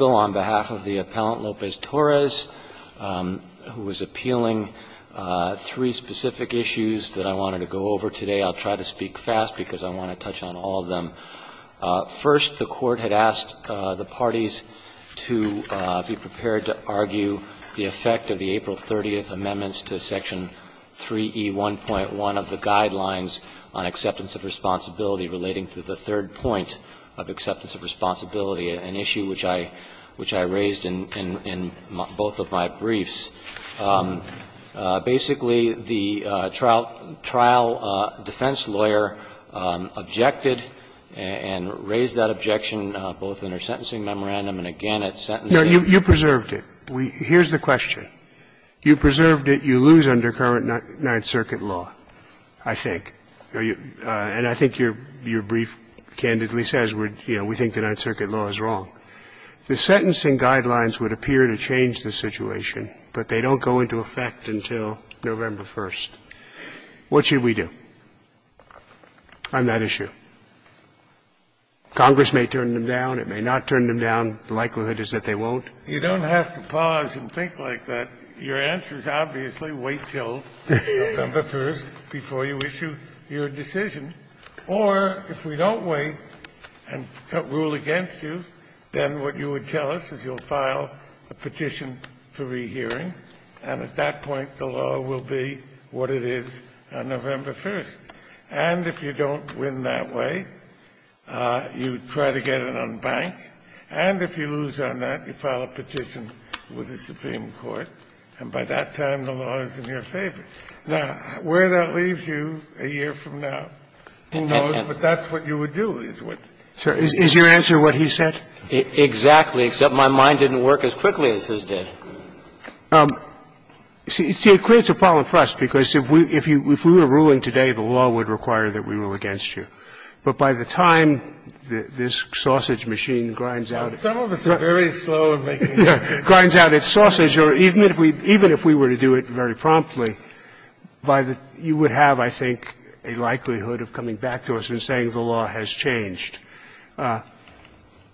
on behalf of the Appellant Lopez-Torres, who is appealing three specific issues that I wanted to go over today. I'll try to speak fast because I want to touch on all of them. First, the Court had asked the parties to be prepared to argue the effect of the April 30th amendments to Section 3E1.1 of the Guidelines on Acceptance of Responsibility relating to the third point of acceptance of responsibility, an issue which I raised in both of my briefs. Basically, the trial defense lawyer objected and raised that objection both in her sentencing memorandum and again at sentencing. Scalia, you preserved it. Here's the question. You preserved it. You lose under current Ninth Circuit law, I think. And I think your brief candidly says, you know, we think the Ninth Circuit law is wrong. The sentencing guidelines would appear to change the situation, but they don't go into effect until November 1st. What should we do on that issue? Congress may turn them down, it may not turn them down. The likelihood is that they won't. You don't have to pause and think like that. Your answer is obviously wait until November 1st before you issue your decision. Or if we don't wait and rule against you, then what you would tell us is you'll file a petition for rehearing, and at that point the law will be what it is on November 1st. And if you don't win that way, you try to get it on bank. And if you lose on that, you file a petition with the Supreme Court, and by that time the law is in your favor. Now, where that leaves you a year from now, who knows, but that's what you would do is what. So is your answer what he said? Exactly, except my mind didn't work as quickly as his did. See, it creates a problem for us, because if we were ruling today, the law would require that we rule against you. But by the time this sausage machine grinds out its sausage, or even if we were to do it very promptly, you would have, I think, a likelihood of coming back to us and saying the law has changed. Now,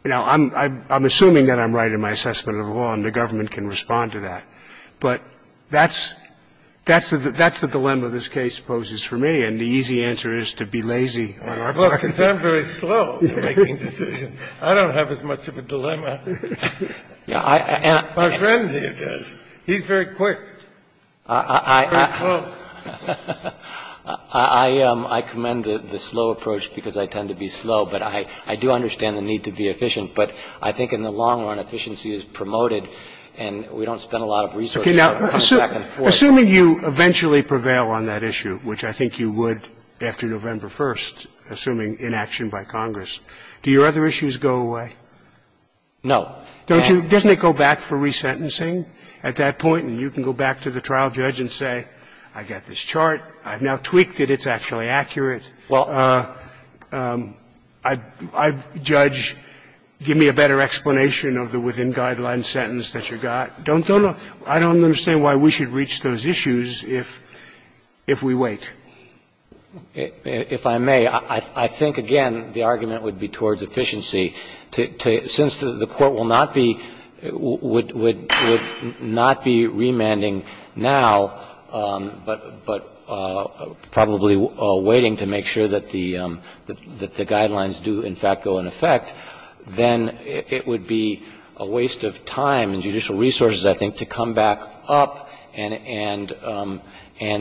I'm assuming that I'm right in my assessment of the law, and the government can respond to that. But that's the dilemma this case poses for me, and the easy answer is to be lazy on our part. Since I'm very slow in making decisions, I don't have as much of a dilemma. My friend here does. He's very quick. I'm very slow. I commend the slow approach, because I tend to be slow, but I do understand the need to be efficient. But I think in the long run, efficiency is promoted, and we don't spend a lot of resources on coming back and forth. Assuming you eventually prevail on that issue, which I think you would after November 1st, assuming inaction by Congress. Do your other issues go away? No. Don't you go back for resentencing at that point, and you can go back to the trial judge and say, I got this chart, I've now tweaked it, it's actually accurate. Well, I'd judge, give me a better explanation of the within guidelines sentence that you got. Don't go, I don't understand why we should reach those issues if we wait. If I may, I think, again, the argument would be towards efficiency. Since the Court will not be — would not be remanding now, but probably waiting to make sure that the guidelines do, in fact, go in effect, then it would be a waste of time and judicial resources, I think, to come back up and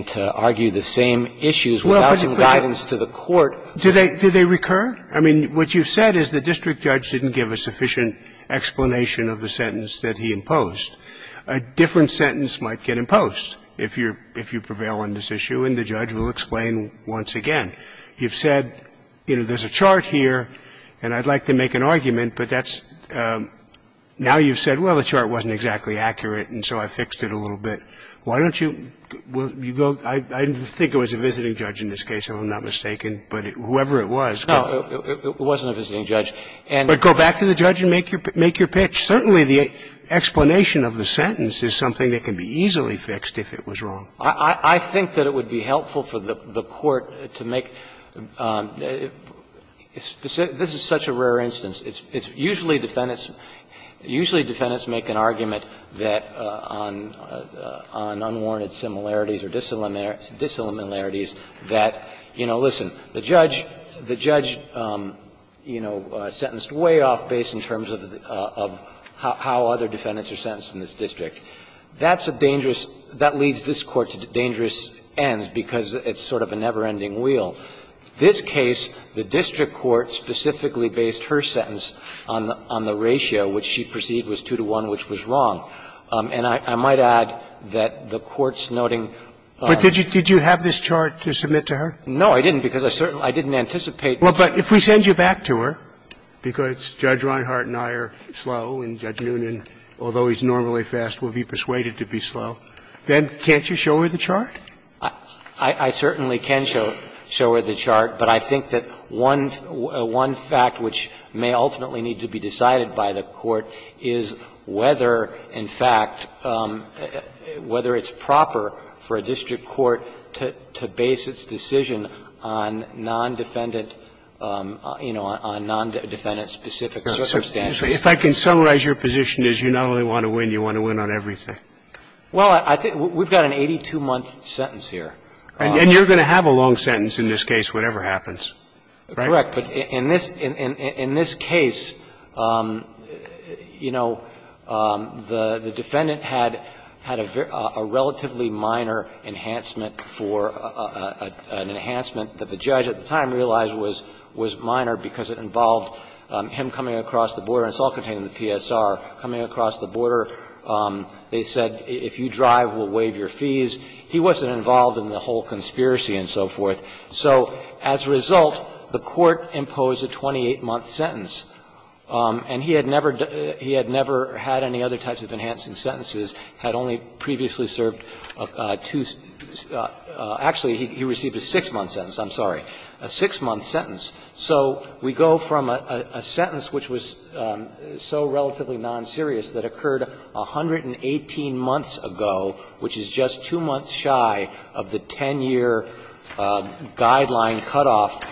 to argue the same issues without some guidance to the Court. Do they recur? I mean, what you've said is the district judge didn't give a sufficient explanation of the sentence that he imposed. A different sentence might get imposed if you're — if you prevail on this issue, and the judge will explain once again. You've said, you know, there's a chart here, and I'd like to make an argument, but that's — now you've said, well, the chart wasn't exactly accurate, and so I fixed it a little bit. Why don't you go — I think it was a visiting judge in this case, if I'm not mistaken, but whoever it was. No, it wasn't a visiting judge. But go back to the judge and make your pitch. Certainly, the explanation of the sentence is something that can be easily fixed if it was wrong. I think that it would be helpful for the Court to make — this is such a rare instance. It's usually defendants — usually defendants make an argument that on unwarranted similarities or disilluminarities that, you know, listen, the judge — the judge, you know, sentenced way off base in terms of how other defendants are sentenced in this district. That's a dangerous — that leads this Court to dangerous ends because it's sort of a never-ending wheel. This case, the district court specifically based her sentence on the ratio, which she perceived was 2 to 1, which was wrong. And I might add that the court's noting — But did you have this chart to submit to her? No, I didn't, because I didn't anticipate — Well, but if we send you back to her, because Judge Reinhart and I are slow and Judge Noonan, although he's normally fast, will be persuaded to be slow, then can't you show her the chart? I certainly can show her the chart, but I think that one fact which may ultimately need to be decided by the Court is whether, in fact, whether it's proper for a district court to base its decision on non-defendant, you know, on non-defendant-specific circumstances. If I can summarize your position is you not only want to win, you want to win on everything. Well, I think we've got an 82-month sentence here. And you're going to have a long sentence in this case, whatever happens, right? Correct. But in this case, you know, the defendant had a relatively minor enhancement for an enhancement that the judge at the time realized was minor because it involved him coming across the border. And it's all contained in the PSR. Coming across the border, they said, if you drive, we'll waive your fees. He wasn't involved in the whole conspiracy and so forth. So as a result, the Court imposed a 28-month sentence. And he had never had any other types of enhancing sentences, had only previously served two – actually, he received a 6-month sentence, I'm sorry, a 6-month sentence. So we go from a sentence which was so relatively non-serious that occurred 118 months ago, which is just two months shy of the 10-year guideline cutoff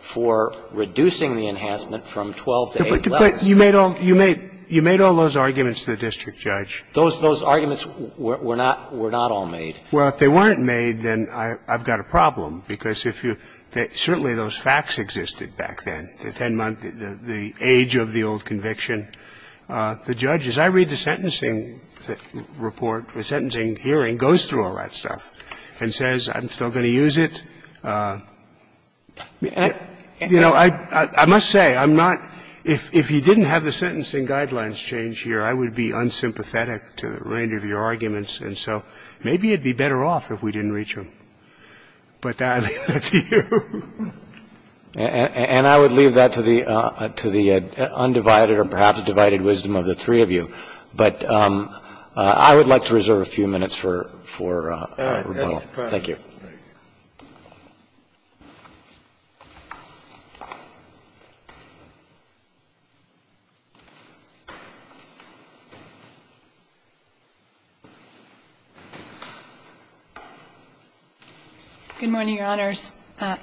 for reducing the enhancement from 12 to 8 levels. But you made all those arguments to the district judge. Those arguments were not all made. Well, if they weren't made, then I've got a problem, because if you – certainly those facts existed back then, the 10-month, the age of the old conviction. The judge, as I read the sentencing report, the sentencing hearing, goes through all that stuff and says, I'm still going to use it. You know, I must say, I'm not – if you didn't have the sentencing guidelines changed here, I would be unsympathetic to the range of your arguments. And so maybe you'd be better off if we didn't reach them. But I leave that to you. And I would leave that to the undivided or perhaps divided wisdom of the three of you. But I would like to reserve a few minutes for rebuttal. Thank you. MS. MCCALLUM, U.S. DISTRICT ATTORNEY GENERAL Good morning, Your Honors.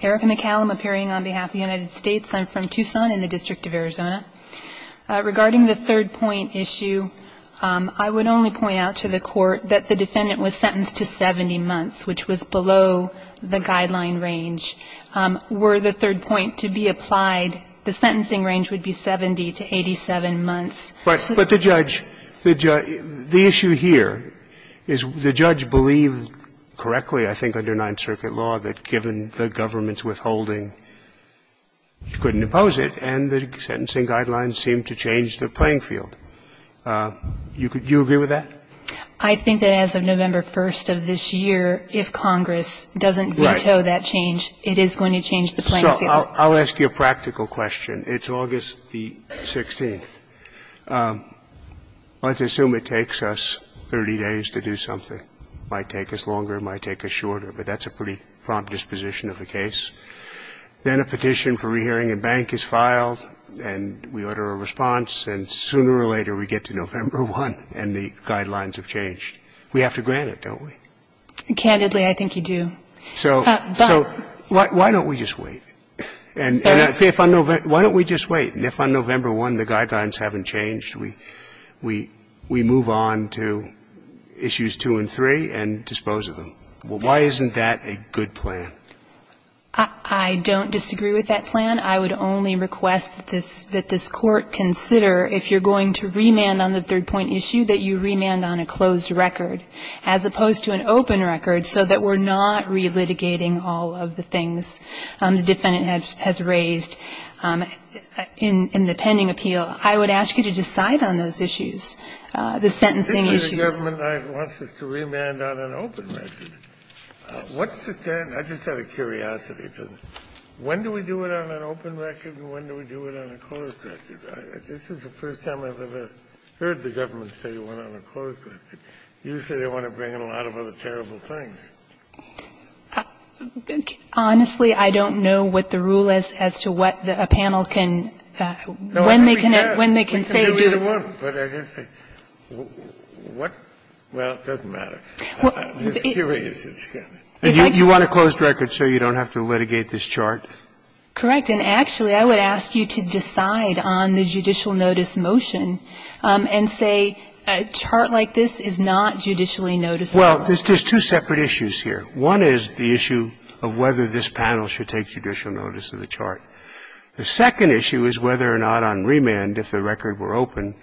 Erica McCallum, appearing on behalf of the United States. I'm from Tucson in the District of Arizona. Regarding the third point issue, I would only point out to the Court that the defendant was sentenced to 70 months, which was below the guideline range. Were the third point to be applied, the sentencing range would be 70 to 87 months. But the judge – the issue here is the judge believed correctly, I think, under Ninth Circuit law, that given the government's withholding, you couldn't impose it, and the sentencing guidelines seemed to change the playing field. You agree with that? MS. MCCALLUM, U.S. DISTRICT ATTORNEY GENERAL I think that as of November 1st of this year, if Congress doesn't veto that change, it is going to change the playing field. SCALIA So I'll ask you a practical question. It's August the 16th. Let's assume it takes us 30 days to do something. It might take us longer. It might take us shorter. But that's a pretty prompt disposition of a case. Then a petition for rehearing at bank is filed, and we order a response. And sooner or later, we get to November 1, and the guidelines have changed. We have to grant it, don't we? MS. MCCALLUM, U.S. DISTRICT ATTORNEY GENERAL Candidly, I think you do. But – SCALIA So why don't we just wait? MS. MCCALLUM, U.S. DISTRICT ATTORNEY GENERAL And if on November 1, the guidelines haven't changed, we move on to issues 2 and 3 and dispose of them. MS. MCCALLUM, U.S. DISTRICT ATTORNEY GENERAL I don't disagree with that plan. I would only request that this Court consider, if you're going to remand on the third point issue, that you remand on a closed record, as opposed to an open record, so that we're not relitigating all of the things the defendant has raised in the pending appeal. I would ask you to decide on those issues, the sentencing issues. Kennedy, I think the government wants us to remand on an open record. What's the stand? I just had a curiosity. When do we do it on an open record and when do we do it on a closed record? This is the first time I've ever heard the government say we want it on a closed record. Usually, they want to bring in a lot of other terrible things. MS. MCCALLUM, U.S. DISTRICT ATTORNEY GENERAL Honestly, I don't know what the rule is as to what a panel can – when they can say to a panel. Kennedy, I think we can do either one. But I just think, what – well, it doesn't matter. I'm just curious, it's going to be. And you want a closed record so you don't have to litigate this chart? Correct. And actually, I would ask you to decide on the judicial notice motion and say a chart like this is not judicially noticeable. Well, there's two separate issues here. One is the issue of whether this panel should take judicial notice of the chart. The second issue is whether or not on remand, if the record were open,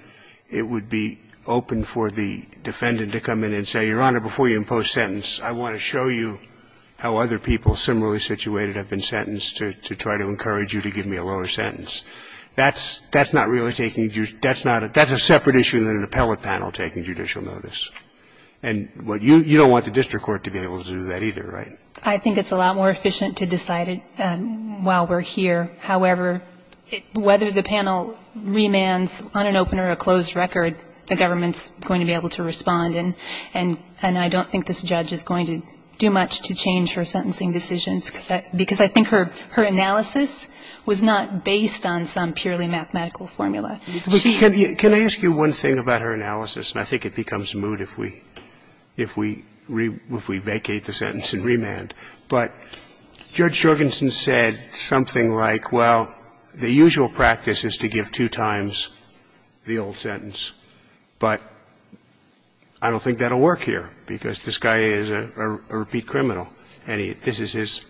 it would be open for the defendant to come in and say, Your Honor, before you impose sentence, I want to show you how other people similarly situated have been sentenced to try to encourage you to give me a lower sentence. That's not really taking – that's not – that's a separate issue than an appellate panel taking judicial notice. And you don't want the district court to be able to do that either, right? I think it's a lot more efficient to decide it while we're here. However, whether the panel remands on an open or a closed record, the government is going to be able to respond, and I don't think this judge is going to do much to change her sentencing decisions, because I think her analysis was not based on some purely mathematical formula. Can I ask you one thing about her analysis, and I think it becomes moot if we vacate the sentence in remand. But Judge Jorgensen said something like, well, the usual practice is to give two times the old sentence. But I don't think that will work here, because this guy is a repeat criminal, and this is his,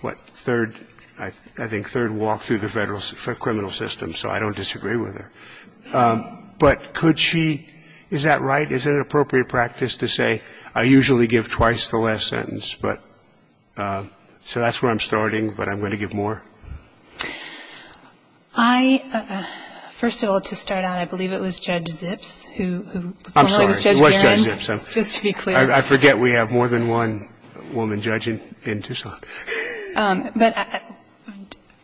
what, third – I think third walk through the federal criminal system, so I don't disagree with her. But could she – is that right? Is it an appropriate practice to say, I usually give twice the last sentence, but – so that's where I'm starting, but I'm going to give more? I – first of all, to start out, I believe it was Judge Zips who – I'm sorry. It was Judge Zips, just to be clear. I forget we have more than one woman judge in Tucson. But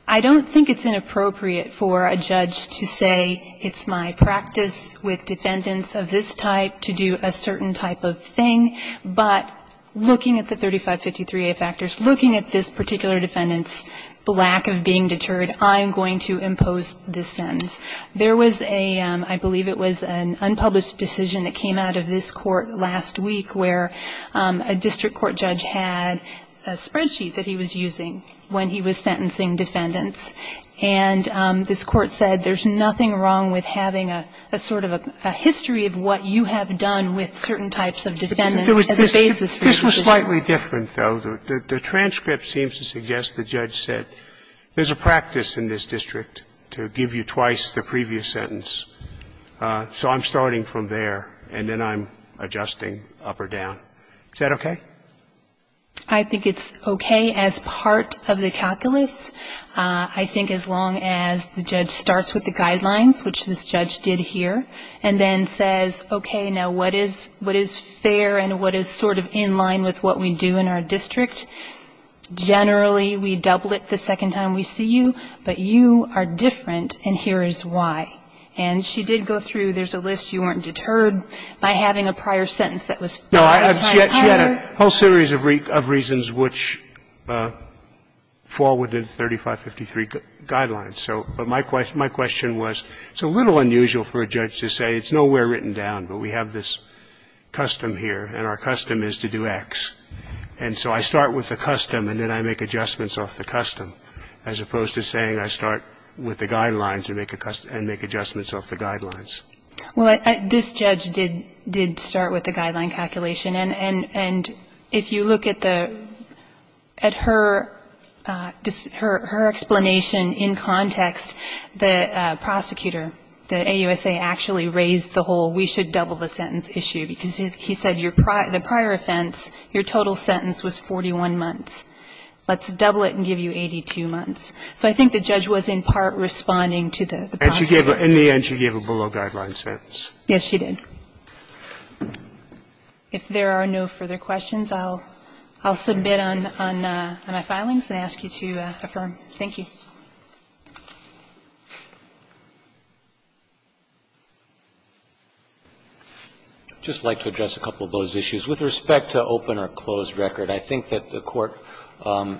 I don't think it's inappropriate for a judge to say, it's my practice with defendants of this type to do a certain type of thing, but looking at the 3553a factors, looking at this particular defendant's lack of being deterred, I am going to impose this sentence. There was a – I believe it was an unpublished decision that came out of this court last week where a district court judge had a spreadsheet that he was using when he was sentencing defendants, and this court said, there's nothing wrong with having a sort of a history of what you have done with certain types of defendants as a basis for this. This was slightly different, though. The transcript seems to suggest the judge said, there's a practice in this district to give you twice the previous sentence. So I'm starting from there, and then I'm adjusting up or down. Is that okay? I think it's okay as part of the calculus. I think as long as the judge starts with the guidelines, which this judge did here, and then says, okay, now, what is fair and what is sort of in line with what we do in our district, generally, we double it the second time we see you, but you are different, and here is why. And she did go through, there's a list, you weren't deterred by having a prior sentence that was five times higher. Scalia, she had a whole series of reasons which fall within 3553 guidelines. So my question was, it's a little unusual for a judge to say, it's nowhere written down, but we have this custom here, and our custom is to do X. And so I start with the custom, and then I make adjustments off the custom, as opposed to saying I start with the guidelines and make adjustments off the guidelines. Well, this judge did start with the guideline calculation, and if you look at the at her, her explanation in context, the prosecutor, the AUSA, actually raised the whole, we should double the sentence issue, because he said the prior offense, your total sentence was 41 months. Let's double it and give you 82 months. So I think the judge was, in part, responding to the prosecutor. In the end, she gave a below-guideline sentence. Yes, she did. If there are no further questions, I'll submit on my filings and ask you to affirm. Thank you. Roberts, I'd just like to address a couple of those issues. With respect to open or closed record, I think that the Court, Judge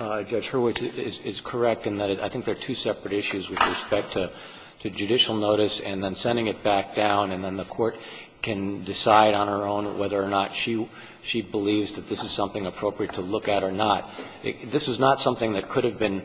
Hurwitz, is correct in that I think there are two separate issues with respect to judicial notice and then sending it back down, and then the Court can decide on her own whether or not she believes that this is something appropriate to look at or not. This was not something that could have been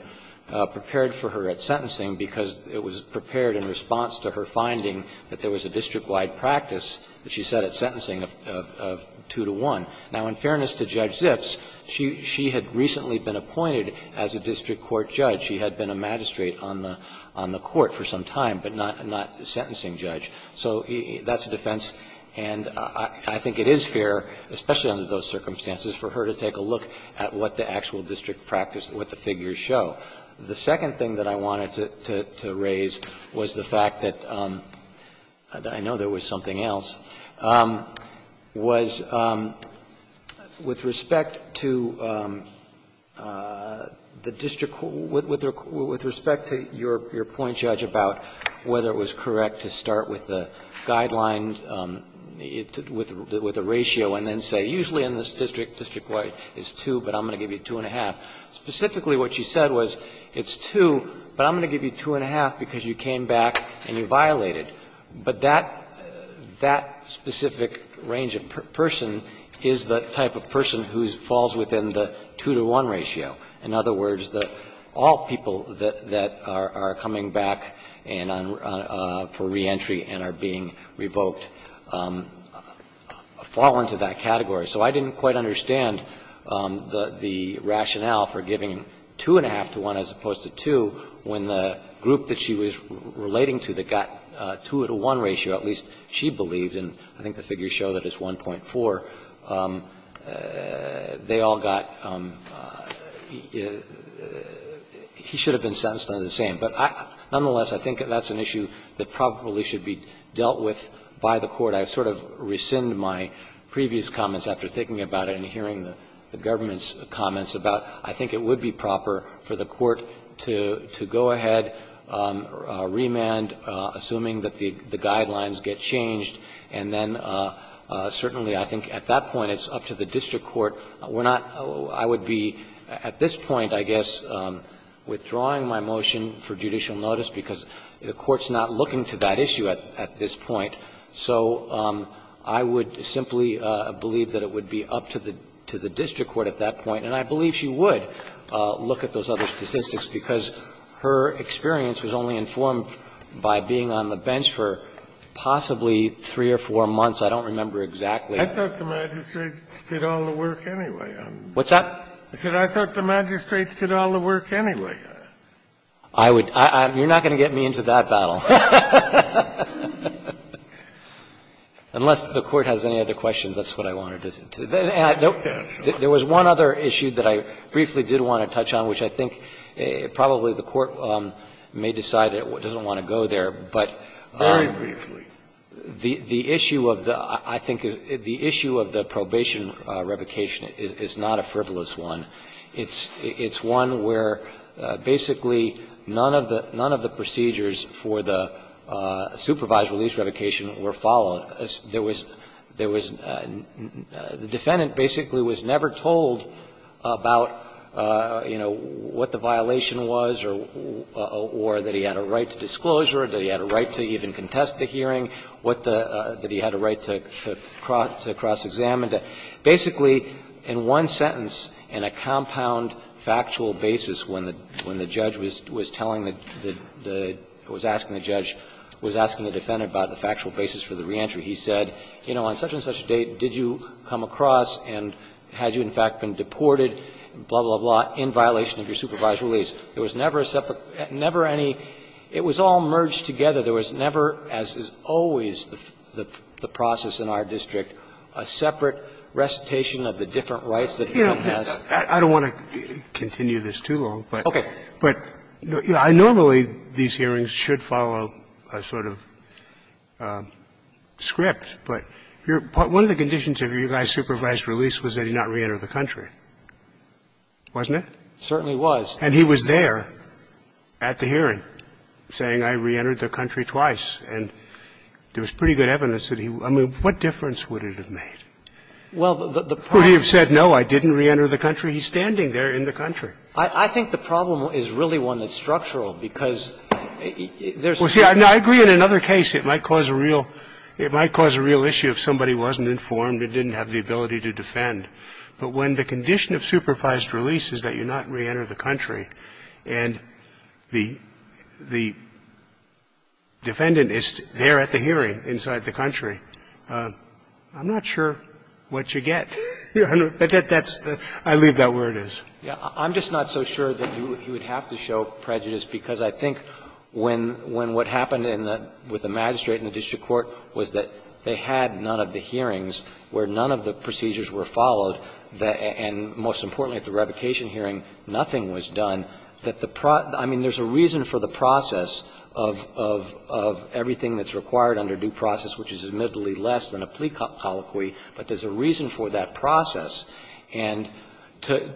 prepared for her at sentencing, because it was prepared in response to her finding that there was a district-wide practice that she set at sentencing of two to one. Now, in fairness to Judge Zips, she had recently been appointed as a district court judge. She had been a magistrate on the Court for some time, but not a sentencing judge. So that's a defense, and I think it is fair, especially under those circumstances, for her to take a look at what the actual district practice, what the figures show. The second thing that I wanted to raise was the fact that I know there was something else, was with respect to the district court, with respect to your point, Judge, about whether it was correct to start with a guideline, with a ratio and then say, usually in this district, district-wide, it's 2, but I'm going to give you 2-1-1-1. Specifically, what she said was, it's 2, but I'm going to give you 2-1-1-1-1 because you came back and you violated. But that specific range of person is the type of person who falls within the 2-to-1 ratio. In other words, all people that are coming back for reentry and are being revoked fall into that category. So I didn't quite understand the rationale for giving 2-1-1-1 as opposed to 2 when the group that she was relating to that got a 2-to-1 ratio, at least she believed and I think the figures show that it's 1.4, they all got he should have been sentenced on the same. But nonetheless, I think that's an issue that probably should be dealt with by the court. I sort of rescind my previous comments after thinking about it and hearing the government's comments about, I think it would be proper for the court to go ahead, remand, assuming that the guidelines get changed, and then certainly I think at that point it's up to the district court. We're not – I would be at this point, I guess, withdrawing my motion for judicial notice because the court's not looking to that issue at this point. So I would simply believe that it would be up to the district court at that point. And I believe she would look at those other statistics because her experience was only informed by being on the bench for possibly 3 or 4 months. I don't remember exactly. Kennedy, I thought the magistrates did all the work anyway. What's that? I said I thought the magistrates did all the work anyway. I would – you're not going to get me into that battle. Unless the court has any other questions, that's what I wanted to say. There was one other issue that I briefly did want to touch on, which I think probably the court may decide it doesn't want to go there, but the issue of the – I think the issue of the probation revocation is not a frivolous one. It's one where basically none of the procedures for the supervised release revocation were followed. There was – there was – the defendant basically was never told about, you know, what the violation was or that he had a right to disclosure, that he had a right to even contest the hearing, what the – that he had a right to cross-examine. Basically, in one sentence, in a compound factual basis, when the judge was telling the – was asking the judge – was asking the defendant about the factual basis for the reentry, he said, you know, on such-and-such a date, did you come across and had you, in fact, been deported, blah, blah, blah, in violation of your supervised release. There was never a separate – never any – it was all merged together. There was never, as is always the process in our district, a separate recitation of the different rights that he has. Roberts, I don't want to continue this too long, but I normally, these hearings should follow a sort of script, but your – one of the conditions of your guy's supervised release was that he not reenter the country, wasn't it? Certainly was. And he was there at the hearing saying, I reentered the country twice, and there was pretty good evidence that he – I mean, what difference would it have made? Well, the problem – Would he have said, no, I didn't reenter the country? He's standing there in the country. I think the problem is really one that's structural, because there's – Well, see, I agree in another case it might cause a real – it might cause a real issue if somebody wasn't informed and didn't have the ability to defend. But when the condition of supervised release is that you not reenter the country and the defendant is there at the hearing inside the country, I'm not sure what you get. But that's – I leave that where it is. I'm just not so sure that you would have to show prejudice, because I think when what happened in the – with the magistrate and the district court was that they had none of the hearings where none of the procedures were followed, and most importantly at the revocation hearing, nothing was done, that the – I mean, there's a reason for the process of everything that's required under due process, which is admittedly less than a plea colloquy, but there's a reason for that process. And to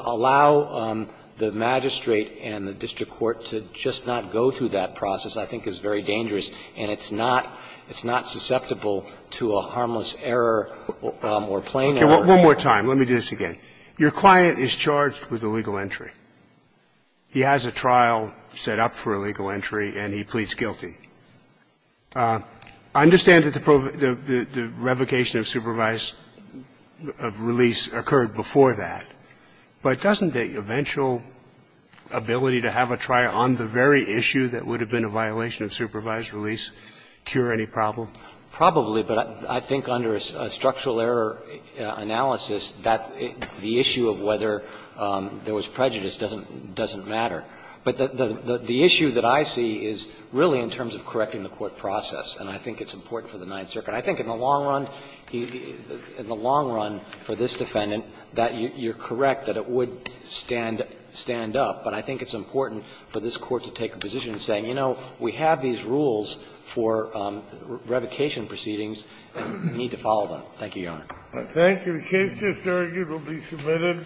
allow the magistrate and the district court to just not go through that process I think is very dangerous, and it's not – it's not susceptible to a harmless error or plain error. One more time. Let me do this again. Your client is charged with illegal entry. He has a trial set up for illegal entry, and he pleads guilty. I understand that the revocation of supervised release occurred before that, but doesn't the eventual ability to have a trial on the very issue that would have been a violation of supervised release cure any problem? Probably, but I think under a structural error analysis, that the issue of whether there was prejudice doesn't matter. But the issue that I see is really in terms of correcting the court process, and I think it's important for the Ninth Circuit. I think in the long run, in the long run for this defendant, that you're correct, that it would stand up, but I think it's important for this Court to take a position saying, you know, we have these rules for revocation proceedings, and we need to follow them. Thank you, Your Honor. I thank you. The case just argued will be submitted.